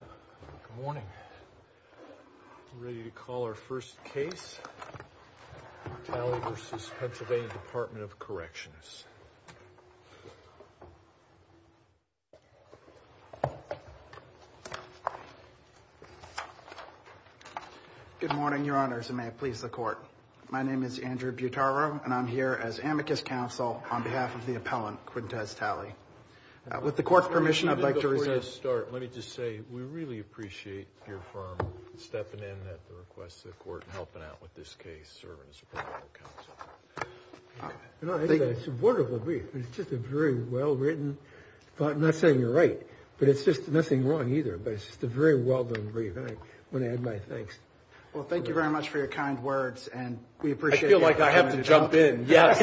Good morning. We're ready to call our first case. Talley v. PA.Sept.of Corrections. Good morning, your honors, and may it please the court. My name is Andrew Butaro, and I'm here as amicus counsel on behalf of the appellant, Qyuntez Talley. With the court's permission, I'd like to resume. Before you start, let me just say we really appreciate your firm stepping in at the request of the court and helping out with this case, serving as appellant counsel. I think it's a wonderful brief. It's just a very well-written thought. I'm not saying you're right, but it's just nothing wrong either, but it's just a very well-done brief, and I want to add my thanks. Well, thank you very much for your kind words, and we appreciate it. I feel like I have to jump in, yes.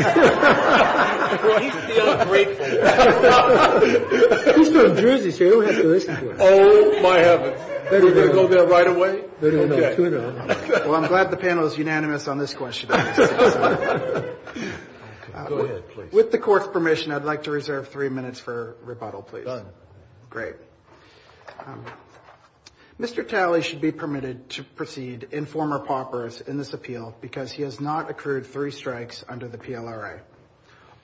Well, he's feeling grateful. He's from Jersey, so he'll have to listen to us. Oh, my heavens. Do we go there right away? No, no, no. Well, I'm glad the panel is unanimous on this question. With the court's permission, I'd like to reserve three minutes for rebuttal, please. Done. Great. Mr. Talley should be permitted to proceed in former paupers in this appeal because he has not accrued three strikes under the PLRA.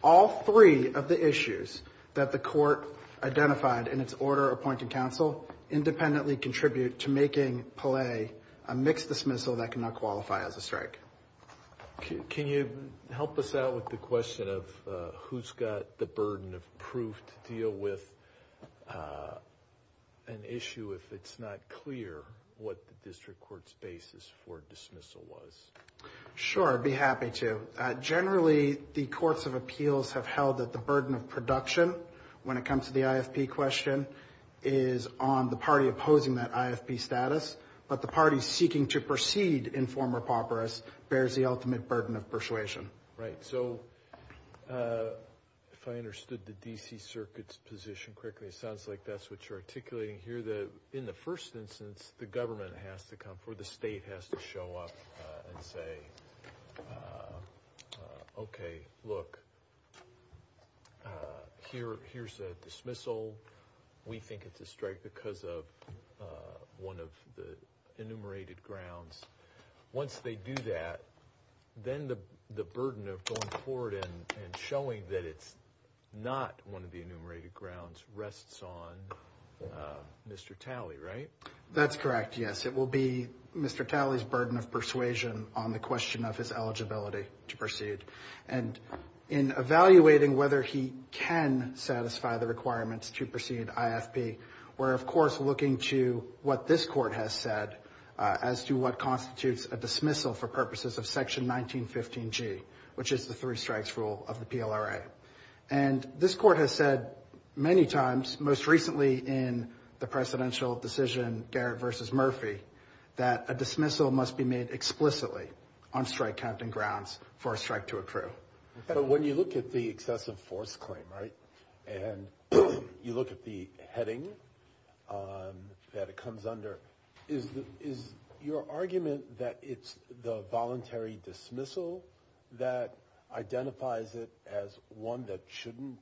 All three of the issues that the court identified in its order appointing counsel independently contribute to making Pelle a mixed dismissal that cannot qualify as a strike. Can you help us out with the question of who's got the burden of proof to deal with an issue if it's not clear what the district court's basis for dismissal was? Sure, I'd be happy to. Generally, the courts of appeals have held that the burden of production when it comes to the IFP question is on the party opposing that IFP status, but the party seeking to proceed in former paupers bears the ultimate burden of persuasion. Right. So if I understood the D.C. Circuit's position correctly, it sounds like that's what you're articulating here, that in the first instance, the government has to come or the state has to show up and say, okay, look, here's a dismissal. We think it's a strike because of one of the enumerated grounds. Once they do that, then the burden of going forward and showing that it's not one of the enumerated grounds rests on Mr. Talley, right? That's correct, yes. It will be Mr. Talley's burden of persuasion on the question of his eligibility to proceed. And in evaluating whether he can satisfy the requirements to proceed IFP, we're of course looking to what this court has said as to what constitutes a dismissal for purposes of Section 1915G, which is the three strikes rule of the PLRA. And this court has said many times, most recently in the presidential decision Garrett v. Murphy, that a dismissal must be made explicitly on strike captain grounds for a strike to accrue. But when you look at the excessive force claim, right, and you look at the heading that it comes that shouldn't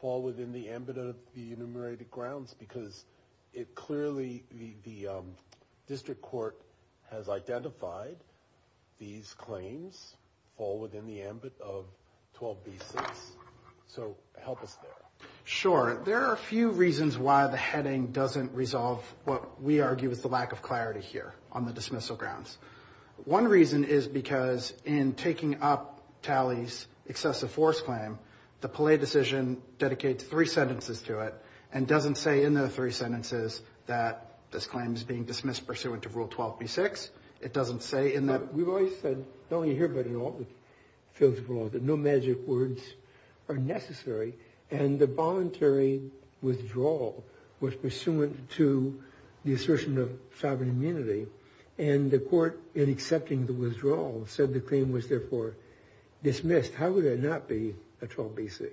fall within the ambit of the enumerated grounds because clearly the district court has identified these claims fall within the ambit of 12B6. So help us there. Sure. There are a few reasons why the heading doesn't resolve what we argue is the lack of clarity here on the dismissal grounds. One reason is because in taking up Talley's excessive force claim, the Palais decision dedicates three sentences to it and doesn't say in the three sentences that this claim is being dismissed pursuant to Rule 12B6. It doesn't say in that. We've always said, not only here but in all the fields of law, that no magic words are necessary. And the voluntary withdrawal was pursuant to the assertion of sovereign immunity. And the court, in accepting the withdrawal, said the claim was therefore dismissed. How would it not be a 12B6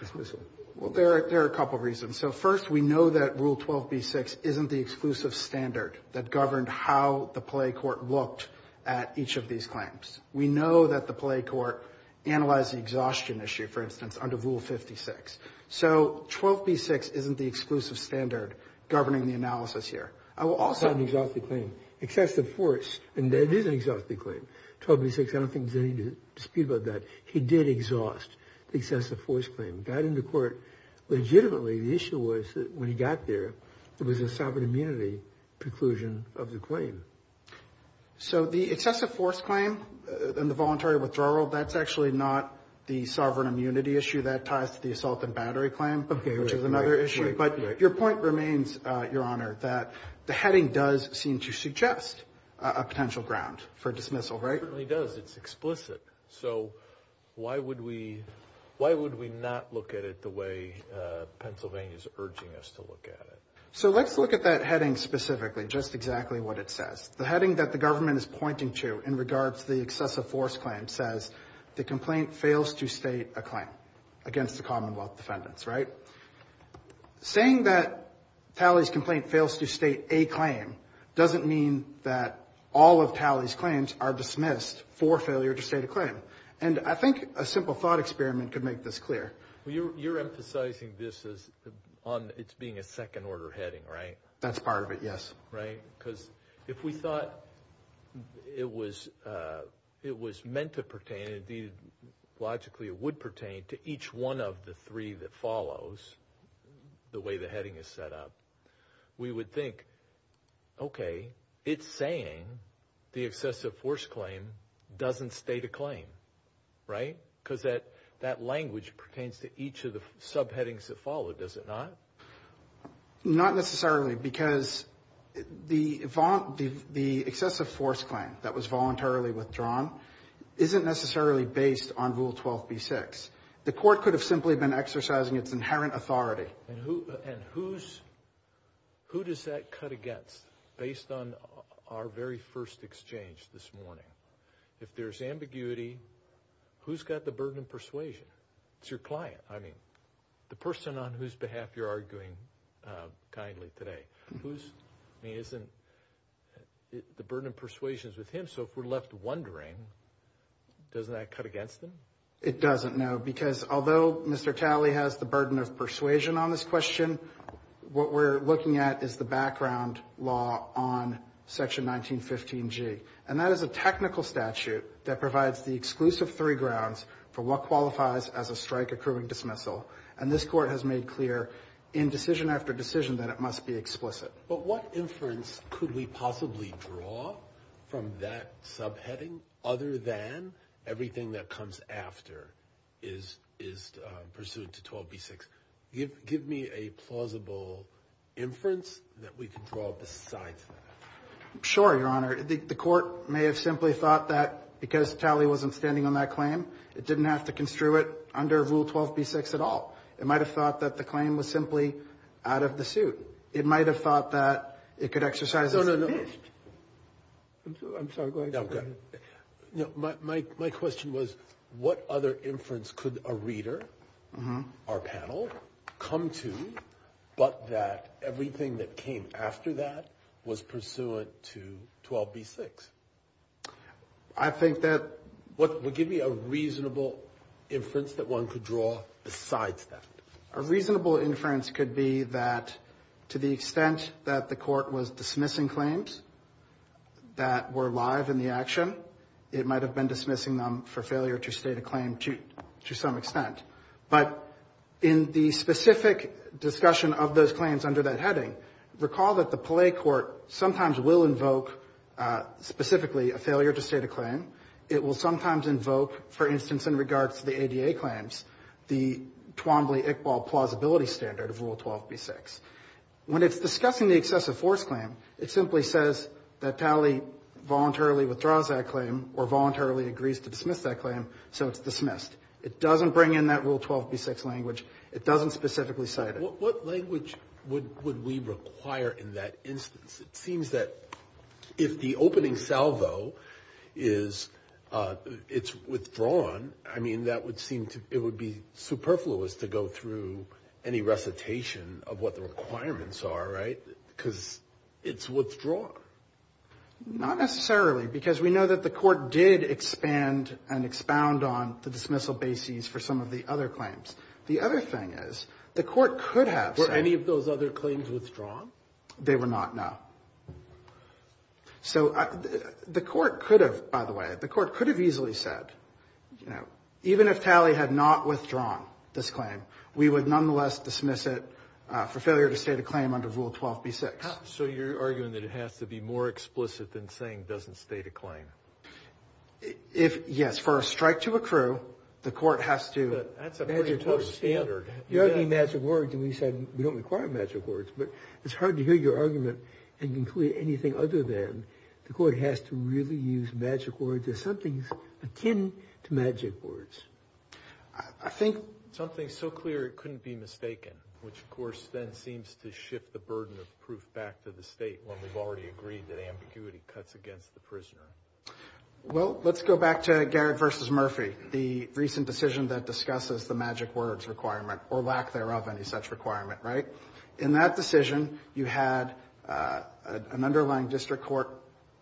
dismissal? Well, there are a couple reasons. So first, we know that Rule 12B6 isn't the exclusive standard that governed how the Palais court looked at each of these claims. We know that the Palais court analyzed the exhaustion issue, for instance, under Rule 56. So 12B6 isn't the exclusive standard governing the analysis here. I will also... An exhaustive claim. Excessive force, and that is an exhaustive claim. 12B6, I don't think there's any dispute about that. He did exhaust the excessive force claim. Got into court. Legitimately, the issue was that when he got there, it was a sovereign immunity preclusion of the claim. So the excessive force claim and the voluntary withdrawal, that's actually not the sovereign immunity issue. That ties to the battery claim, which is another issue. But your point remains, Your Honor, that the heading does seem to suggest a potential ground for dismissal, right? It certainly does. It's explicit. So why would we not look at it the way Pennsylvania is urging us to look at it? So let's look at that heading specifically, just exactly what it says. The heading that the government is pointing to in regards to the excessive force claim says the complaint fails to state a claim against the Commonwealth defendants, right? Saying that Talley's complaint fails to state a claim doesn't mean that all of Talley's claims are dismissed for failure to state a claim. And I think a simple thought experiment could make this clear. Well, you're emphasizing this as on it's being a second order heading, right? That's part of it, yes. Right? Because if we thought it was meant to pertain, and logically it would pertain to each one of the three that follows, the way the heading is set up, we would think, okay, it's saying the excessive force claim doesn't state a claim, right? Because that language pertains to each of the subheadings that follow, does it not? Not necessarily, because the excessive force claim that was voluntarily withdrawn isn't necessarily based on Rule 12b-6. The court could have simply been exercising its inherent authority. And who does that cut against based on our very first exchange this morning? If there's ambiguity, who's got the burden of persuasion? It's your client. I mean, the person on whose behalf you're arguing kindly today. I mean, isn't the burden of persuasion with him? So if we're left wondering, doesn't that cut against him? It doesn't, no. Because although Mr. Talley has the burden of persuasion on this question, what we're looking at is the background law on Section 1915G. And that is a technical statute that provides the exclusive three grounds for what qualifies as a strike accruing dismissal. And this court has made clear in decision after decision that it must be explicit. But what inference could we possibly draw from that subheading other than everything that comes after is pursuant to 12b-6? Give me a plausible inference that we can draw besides that. Sure, Your Honor. The court may have simply thought that because Talley wasn't standing on that claim, it didn't have to construe it under Rule 12b-6 at all. It might have thought that the claim was simply out of the suit. It might have thought that it could exercise its fist. No, no, no. I'm sorry. Go ahead. No, go ahead. My question was, what other inference could a reader, our panel, come to but that everything that came after that was pursuant to 12b-6? I think that... Give me a reasonable inference that one could draw besides that. A reasonable inference could be that to the extent that the court was dismissing claims that were live in the action, it might have been dismissing them for failure to state a claim to some extent. But in the specific discussion of those claims under that heading, recall that the Palais Court sometimes will invoke specifically a failure to state a claim. It will sometimes invoke, for instance, in regards to the ADA claims, the Twombly-Iqbal plausibility standard of Rule 12b-6. When it's discussing the excessive force claim, it simply says that Talley voluntarily withdraws that claim or voluntarily agrees to dismiss that claim, so it's dismissed. It doesn't bring in that Rule 12b-6 language. It doesn't specifically cite it. What language would we require in that instance? It seems that if the opening salvo is withdrawn, I mean, that would seem to be superfluous to go through any recitation of what the requirements are, right? Because it's withdrawn. Not necessarily because we know that the Court did expand and expound on the dismissal basis for some of the other claims. The other thing is, the Court could have said any of those other claims withdrawn. They were not, no. So the Court could have, by the way, the Court could have easily said, you know, even if Talley had not withdrawn this claim, we would nonetheless dismiss it for failure to state a claim under Rule 12b-6. So you're arguing that it has to be more explicit than saying it doesn't state a claim? If, yes, for a strike to accrue, the Court has to... But that's a pretty close standard. You're arguing magic words, and we said we don't require magic words, but it's hard to hear your argument and conclude anything other than the Court has to really use magic words if something's akin to magic words. I think something so clear it couldn't be mistaken, which, of course, then seems to burden the proof back to the State when we've already agreed that ambiguity cuts against the prisoner. Well, let's go back to Garrett v. Murphy, the recent decision that discusses the magic words requirement, or lack thereof, any such requirement, right? In that decision, you had an underlying district court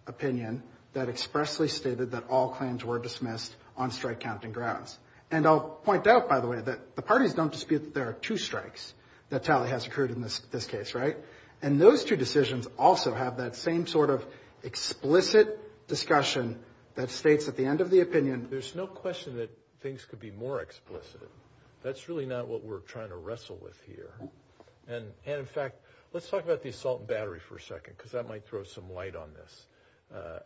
opinion that expressly stated that all claims were dismissed on strike-counting grounds. And I'll point out, by the way, that the parties don't dispute that there are two strikes that tally has occurred in this case, right? And those two decisions also have that same sort of explicit discussion that states at the end of the opinion... There's no question that things could be more explicit. That's really not what we're trying to wrestle with here. And, in fact, let's talk about the assault and battery for a second, because that might throw some light on this.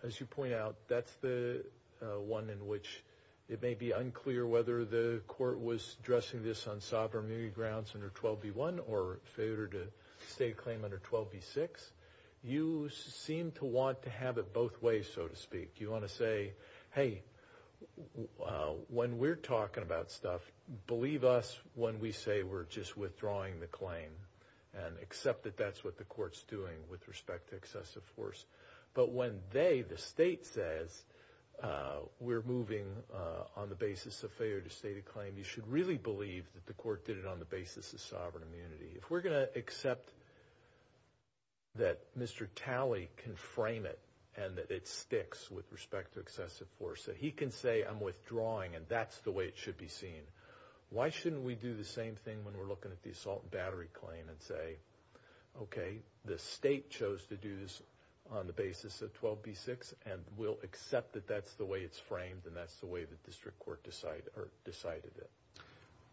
As you point out, that's the one in which it may be unclear whether the Court was addressing this on sovereign immunity grounds under 12b1 or failure to state a claim under 12b6. You seem to want to have it both ways, so to speak. You want to say, hey, when we're talking about stuff, believe us when we say we're just withdrawing the claim and accept that that's what the Court's doing with respect to excessive force. But when they, the state, says we're moving on the basis of failure to state a claim, you should really believe that the Court did it on the basis of sovereign immunity. If we're going to accept that Mr. Talley can frame it and that it sticks with respect to excessive force, so he can say I'm withdrawing and that's the way it should be seen, why shouldn't we do the same thing when we're looking at the assault and battery claim and say, okay, the state chose to do this on the basis of 12b6 and we'll accept that that's the way it's framed and that's the way the district court decided it.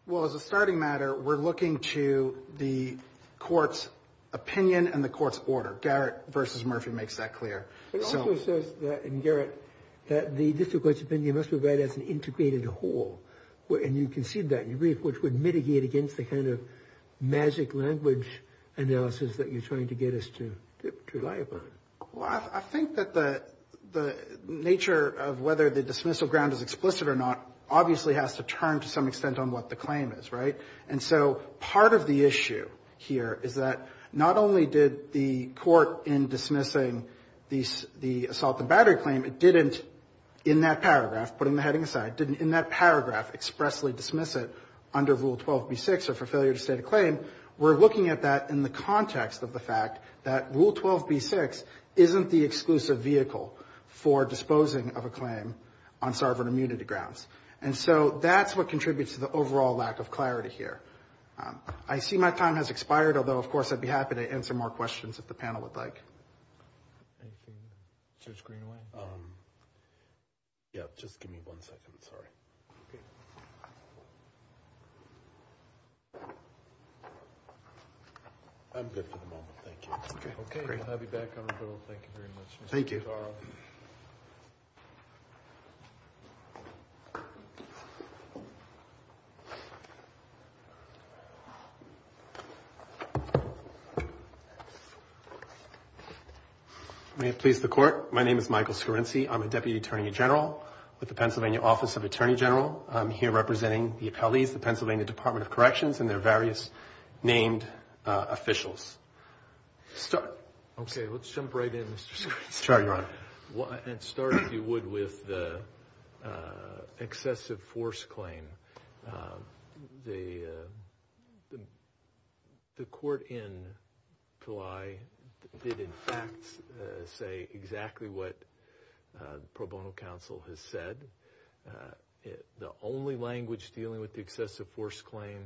Well, as a starting matter, we're looking to the Court's opinion and the Court's order. Garrett versus Murphy makes that clear. It also says in Garrett that the district court's opinion must be read as an integrated whole, and you concede that in your brief, which would mitigate against the kind of magic language analysis that you're trying to get us to rely upon. Well, I think that the nature of whether the dismissal ground is explicit or not obviously has to turn to some extent on what the claim is, right? And so part of the issue here is that not only did the Court in dismissing the assault and battery claim, it didn't in that paragraph, putting the heading aside, didn't in that paragraph expressly dismiss it under Rule 12b6 or for failure to state a claim. We're looking at that in the context of the fact that Rule 12b6 isn't the exclusive vehicle for disposing of a claim on sovereign immunity grounds. And so that's what contributes to the overall lack of clarity here. I see my time has expired, although of course I'd be happy to answer more questions if the panel would like. Anything, Judge Greenway? Yeah, just give me one second. Sorry. I'm good for the moment. Thank you. Okay. Okay. I'll have you back on the bill. Thank you very much. Thank you. May it please the Court. My name is Michael Scorinci. I'm a Deputy Attorney General with the Pennsylvania Office of Attorney General. I'm here representing the appellees, the Pennsylvania Department of Corrections, and their various named officials. Start. Okay. Let's jump right in, Mr. Scorinci. Sure, Your Honor. And start, if you would, with the excessive force claim. The Court in July did, in fact, say exactly what the pro bono counsel has said. The only language dealing with the excessive force claim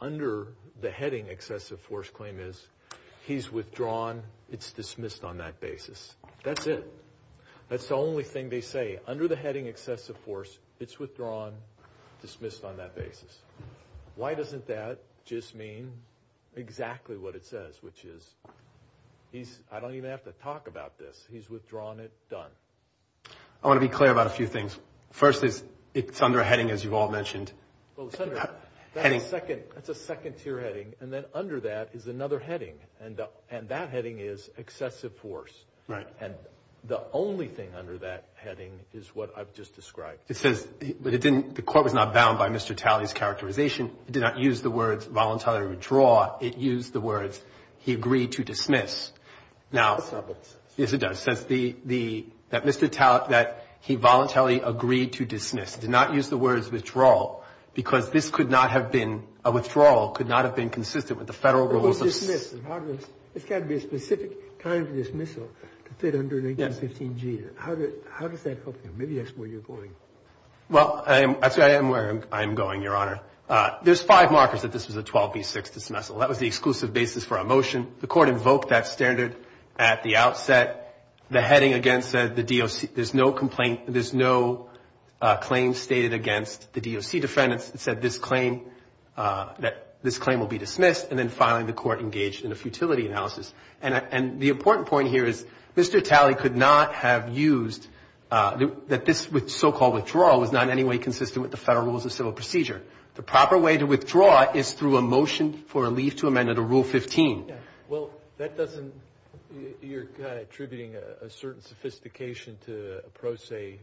under the heading excessive force claim is, he's withdrawn. It's dismissed on that basis. That's it. That's the only thing they say. Under the heading excessive force, it's withdrawn. Dismissed on that basis. Why doesn't that just mean exactly what it says, which is, he's, I don't even have to talk about this. He's withdrawn it. Done. I want to be clear about a few things. First is, it's under a heading, as you've all mentioned. That's a second tier heading. And then under that is another heading. And that heading is excessive force. Right. And the only thing under that heading is what I've just described. It says, but it didn't, the Court was not bound by Mr. Talley's characterization. It did not use the words voluntarily withdraw. It used the words, he agreed to dismiss. Now, yes, it does. Says the, that Mr. Talley, that he voluntarily agreed to dismiss. It did not use the words withdrawal, because this could not have been, a withdrawal could not have been consistent with the Federal rules of. It's got to be a specific kind of dismissal to fit under an 1815G. How does that help you? Maybe that's where you're going. Well, I am where I'm going, Your Honor. There's five markers that this was a 12B6 dismissal. That was the exclusive basis for our motion. The Court invoked that standard at the outset. The heading again said the DOC, there's no complaint, there's no claim stated against the DOC defendants that said this claim, that this claim will be dismissed. And then finally, the Court engaged in a futility analysis. And the important point here is, Mr. Talley could not have used, that this so-called withdrawal was not in any way consistent with the Federal rules of civil procedure. The proper way to withdraw is through a motion for a leave to amend under Rule 15. Well, that doesn't, you're kind of attributing a certain sophistication to a pro se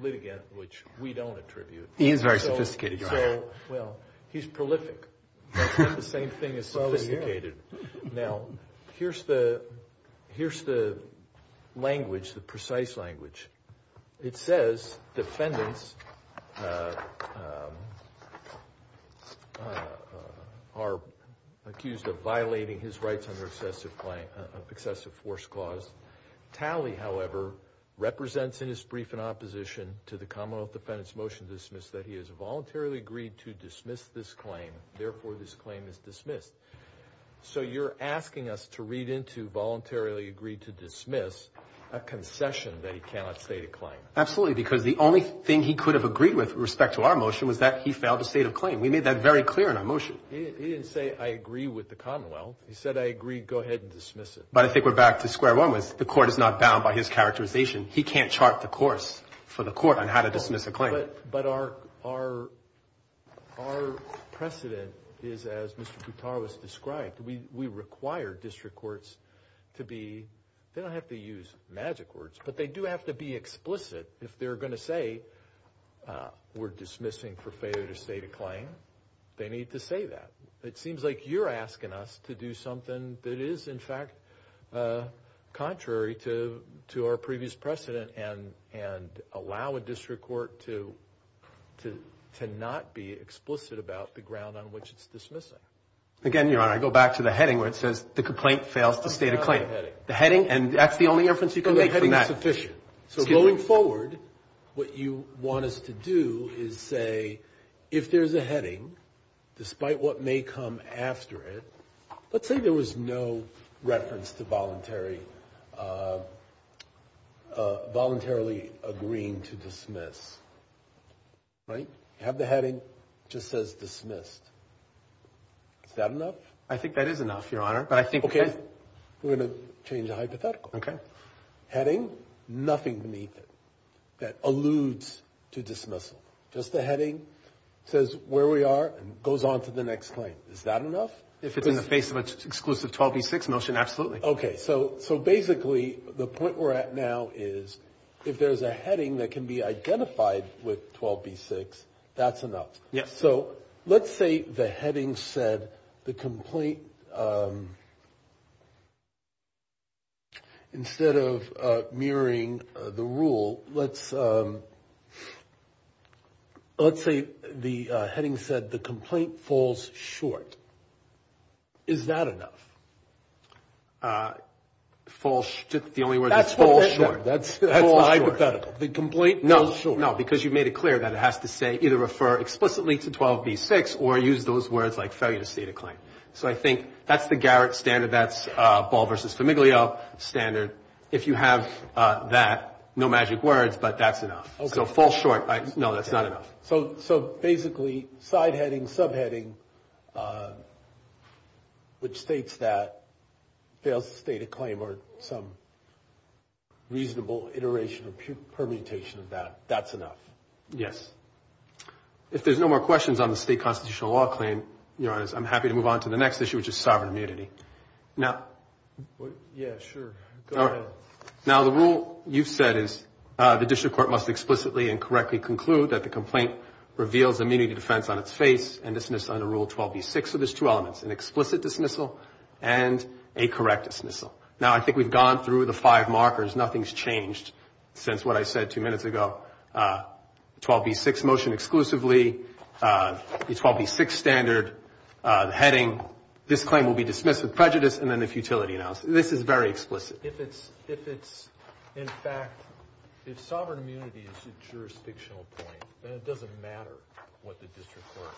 litigant, which we don't attribute. He is very sophisticated, Your Honor. Well, he's prolific. The same thing as sophisticated. Now, here's the language, the precise language. It says defendants are accused of violating his rights under excessive force clause. Talley, however, represents in his brief in opposition to the Commonwealth defendants motion to dismiss that he has voluntarily agreed to dismiss this claim. Therefore, this claim is dismissed. So, you're asking us to read into voluntarily agreed to dismiss a concession that he cannot state a claim. Absolutely, because the only thing he could have agreed with respect to our motion was that he failed to state a claim. We made that very clear in our motion. He didn't say, I agree with the Commonwealth. He said, I agree, go ahead and dismiss it. But I think we're back to square one with the Court is not bound by his characterization. He can't chart the course for the Court on how to dismiss a claim. But our precedent is, as Mr. Boutar was described, we require district courts to be, they don't have to use magic words, but they do have to be explicit. If they're going to say we're dismissing for failure to state a claim, they need to say that. It seems like you're asking us to do something that is, in fact, contrary to our previous precedent and allow a district court to not be explicit about the ground on which it's dismissing. Again, Your Honor, I go back to the heading where it says the complaint fails to state a claim. The heading, and that's the only inference you can make from that. The heading is sufficient. So, going forward, what you want us to do is say, if there's a heading, despite what voluntarily agreeing to dismiss, right? Have the heading just says dismissed. Is that enough? I think that is enough, Your Honor. But I think... Okay. We're going to change the hypothetical. Okay. Heading, nothing beneath it that alludes to dismissal. Just the heading says where we are and goes on to the next claim. Is that enough? If it's in the face of an exclusive 12v6 motion, absolutely. Okay. So, basically, the point we're at now is, if there's a heading that can be identified with 12v6, that's enough. Yes. So, let's say the heading said the complaint... Instead of mirroring the rule, let's say the heading said the complaint falls short. Is that enough? Fall... The only word is fall short. That's hypothetical. The complaint falls short. No, because you've made it clear that it has to say, either refer explicitly to 12v6 or use those words like failure to state a claim. So, I think that's the Garrett standard. That's Ball v. Famiglio standard. If you have that, no magic words, but that's enough. So, fall short. No, that's not enough. So, basically, side heading, subheading, which states that fail to state a claim or some reasonable iteration or permutation of that, that's enough. Yes. If there's no more questions on the state constitutional law claim, I'm happy to move on to the next issue, which is sovereign immunity. Yeah, sure. Go ahead. Now, the rule you've said is the district court must explicitly and correctly conclude that the complaint reveals immunity defense on its face and dismiss under Rule 12v6. So, there's two elements, an explicit dismissal and a correct dismissal. Now, I think we've gone through the five markers. Nothing's changed since what I said two minutes ago. 12v6 motion exclusively, the 12v6 standard, the heading, this claim will be dismissed with prejudice and then a futility analysis. This is very explicit. If it's, in fact, if sovereign immunity is a jurisdictional point, then it doesn't matter what the district court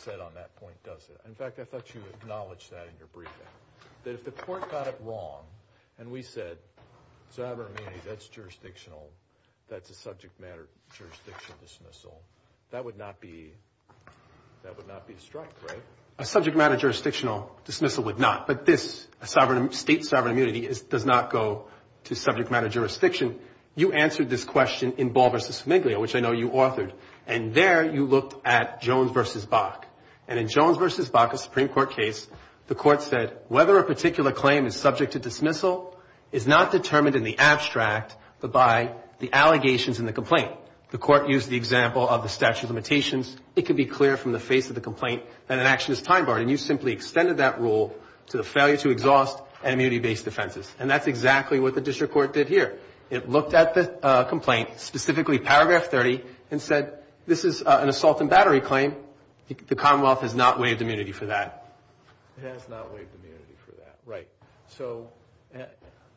said on that point, does it? In fact, I thought you acknowledged that in your briefing, that if the court got it wrong and we said, sovereign immunity, that's jurisdictional, that's a subject matter jurisdiction dismissal, that would not be, that would not be a strike, right? A subject matter jurisdictional dismissal would not. But this, a sovereign, state sovereign immunity does not go to subject matter jurisdiction. You answered this question in Ball v. Sumiglio, which I know you authored. And there you looked at Jones v. Bach. And in Jones v. Bach, a Supreme Court case, the court said, whether a particular claim is subject to dismissal is not determined in the abstract, but by the allegations in the complaint. The court used the example of the statute of limitations. It could be clear from the face of the complaint that an action is time barred. And you simply extended that rule to the failure to exhaust and immunity-based defenses. And that's exactly what the district court did here. It looked at the complaint, specifically Paragraph 30, and said, this is an assault and battery claim. The Commonwealth has not waived immunity for that. It has not waived immunity for that. Right. So,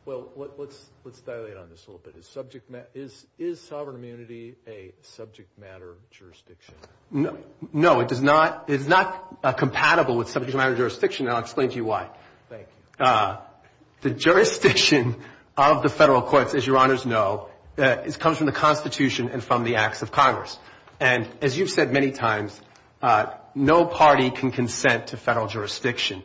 well, let's dilate on this a little bit. Is sovereign immunity a subject matter jurisdiction? No, it does not. It's not compatible with subject matter jurisdiction. And I'll explain to you why. Thank you. The jurisdiction of the federal courts, as your honors know, comes from the Constitution and from the acts of Congress. And as you've said many times, no party can consent to federal jurisdiction.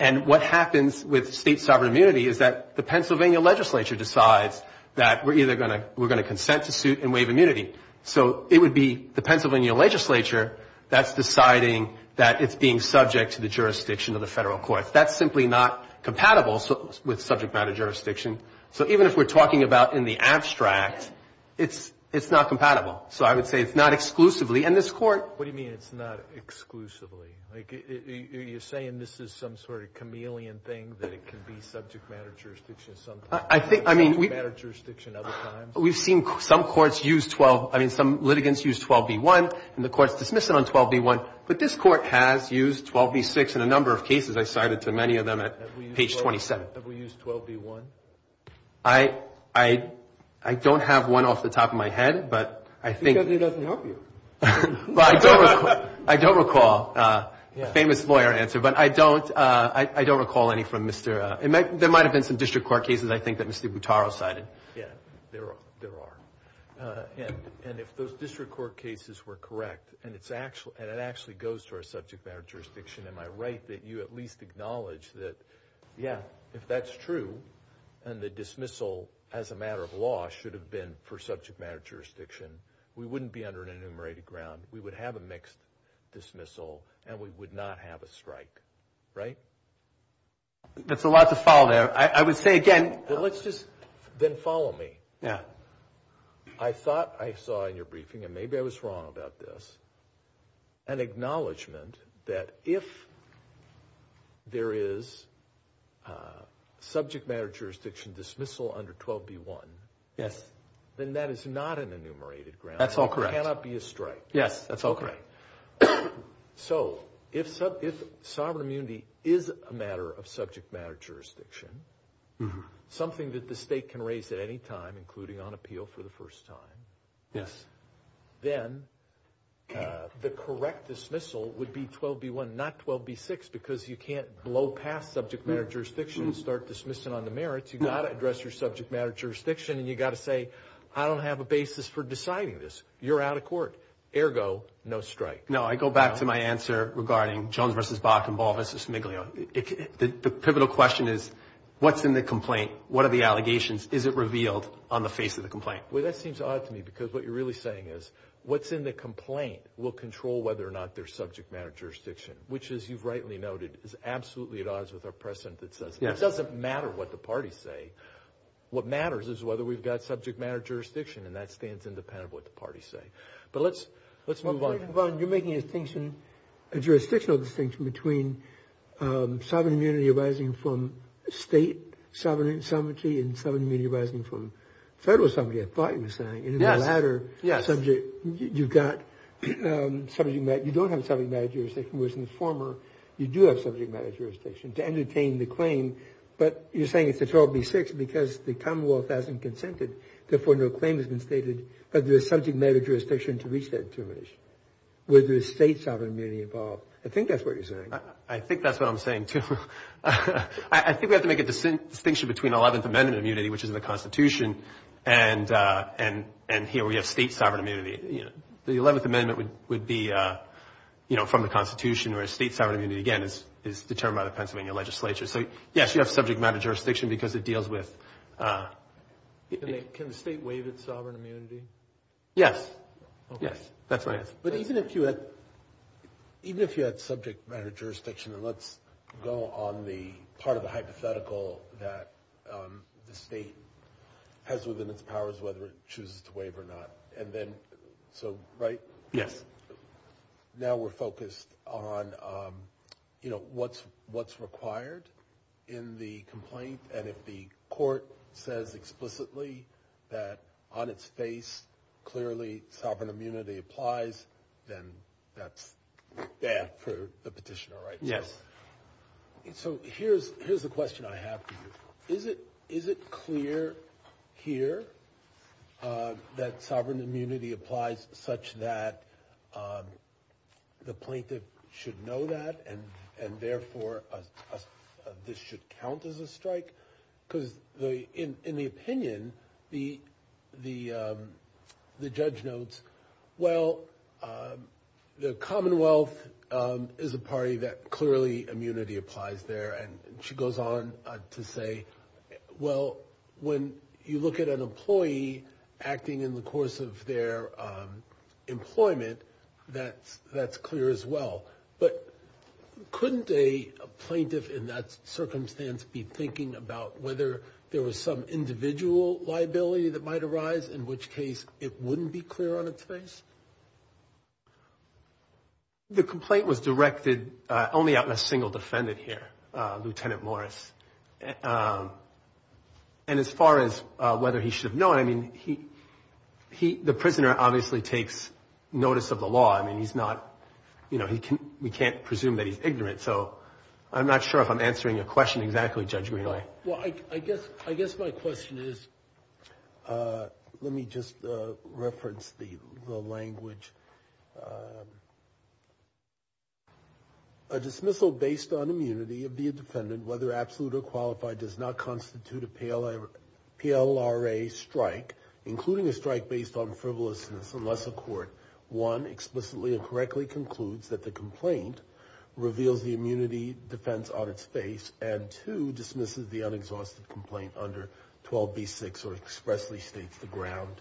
And what happens with state sovereign immunity is that the Pennsylvania legislature decides that we're either going to consent to suit and waive immunity. So it would be the Pennsylvania legislature that's deciding that it's being subject to the jurisdiction of the federal courts. That's simply not compatible with subject matter jurisdiction. So even if we're talking about in the abstract, it's not compatible. So I would say it's not exclusively. And this Court— What do you mean it's not exclusively? Like, are you saying this is some sort of chameleon thing, that it can be subject matter jurisdiction sometimes and subject matter jurisdiction other times? We've seen some courts use 12—I mean, some litigants use 12b-1, and the Court's dismissing on 12b-1. But this Court has used 12b-6 in a number of cases. I cited to many of them at page 27. Have we used 12b-1? I don't have one off the top of my head. But I think— Because it doesn't help you. But I don't recall—a famous lawyer answer. But I don't recall any from Mr.—there might have been some district court cases, I think, that Mr. Butaro cited. Yeah, there are. And if those district court cases were correct, and it actually goes to our subject matter jurisdiction, am I right that you at least acknowledge that, yeah, if that's true, and the dismissal as a matter of law should have been for subject matter jurisdiction, we wouldn't be under an enumerated ground. We would have a mixed dismissal, and we would not have a strike, right? That's a lot to follow there. I would say, again— Let's just—then follow me. Yeah. I thought I saw in your briefing, and maybe I was wrong about this, an acknowledgement that if there is subject matter jurisdiction dismissal under 12b-1— Yes. —then that is not an enumerated ground. That's all correct. There cannot be a strike. Yes, that's all correct. All right. So if sovereign immunity is a matter of subject matter jurisdiction, something that the state can raise at any time, including on appeal for the first time— Yes. —then the correct dismissal would be 12b-1, not 12b-6, because you can't blow past subject matter jurisdiction and start dismissing on the merits. You've got to address your subject matter jurisdiction, and you've got to say, I don't have a basis for deciding this. You're out of court. Ergo, no strike. No, I go back to my answer regarding Jones v. Bach and Ball v. Smiglio. The pivotal question is, what's in the complaint? What are the allegations? Is it revealed on the face of the complaint? Well, that seems odd to me, because what you're really saying is, what's in the complaint will control whether or not there's subject matter jurisdiction, which, as you've rightly noted, is absolutely at odds with our precedent that says, it doesn't matter what the parties say. What matters is whether we've got subject matter jurisdiction, and that stands independent of what the parties say. But let's move on. You're making a distinction, a jurisdictional distinction, between sovereign immunity arising from state sovereignty and sovereign immunity arising from federal sovereignty, I thought you were saying. And in the latter subject, you've got subject matter. You don't have subject matter jurisdiction, whereas in the former, you do have subject matter jurisdiction to entertain the claim. But you're saying it's a 12b-6 because the Commonwealth hasn't consented. Therefore, no claim has been stated, but there's subject matter jurisdiction to reach that determination. Whether there's state sovereign immunity involved. I think that's what you're saying. I think that's what I'm saying, too. I think we have to make a distinction between 11th Amendment immunity, which is in the Constitution, and here we have state sovereign immunity. The 11th Amendment would be from the Constitution, whereas state sovereign immunity, again, is determined by the Pennsylvania legislature. So, yes, you have subject matter jurisdiction because it deals with Can the state waive its sovereign immunity? Yes. Yes, that's right. But even if you had subject matter jurisdiction, and let's go on the part of the hypothetical that the state has within its powers, whether it chooses to waive or not. And then, so, right? Yes. Now we're focused on what's required in the complaint. And if the court says explicitly that on its face, clearly, sovereign immunity applies, then that's bad for the petitioner, right? Yes. So here's the question I have for you. Is it clear here that sovereign immunity applies such that the plaintiff should know that and therefore this should count as a strike? Because in the opinion, the judge notes, well, the Commonwealth is a party that clearly immunity applies there. And she goes on to say, well, when you look at an employee acting in the course of their employment, that's clear as well. But couldn't a plaintiff in that circumstance be thinking about whether there was some individual liability that might arise, in which case it wouldn't be clear on its face? The complaint was directed only on a single defendant here, Lieutenant Morris. And as far as whether he should have known, I mean, the prisoner obviously takes notice of the law. I mean, we can't presume that he's ignorant. So I'm not sure if I'm answering your question exactly, Judge Greenaway. Well, I guess my question is, let me just reference the language. A dismissal based on immunity of the defendant, whether absolute or qualified, does not constitute a PLRA strike, including a strike based on frivolousness, unless the court, one, explicitly and correctly concludes that the complaint reveals the immunity defense on its face, and two, dismisses the unexhausted complaint under 12b-6 or expressly states the ground.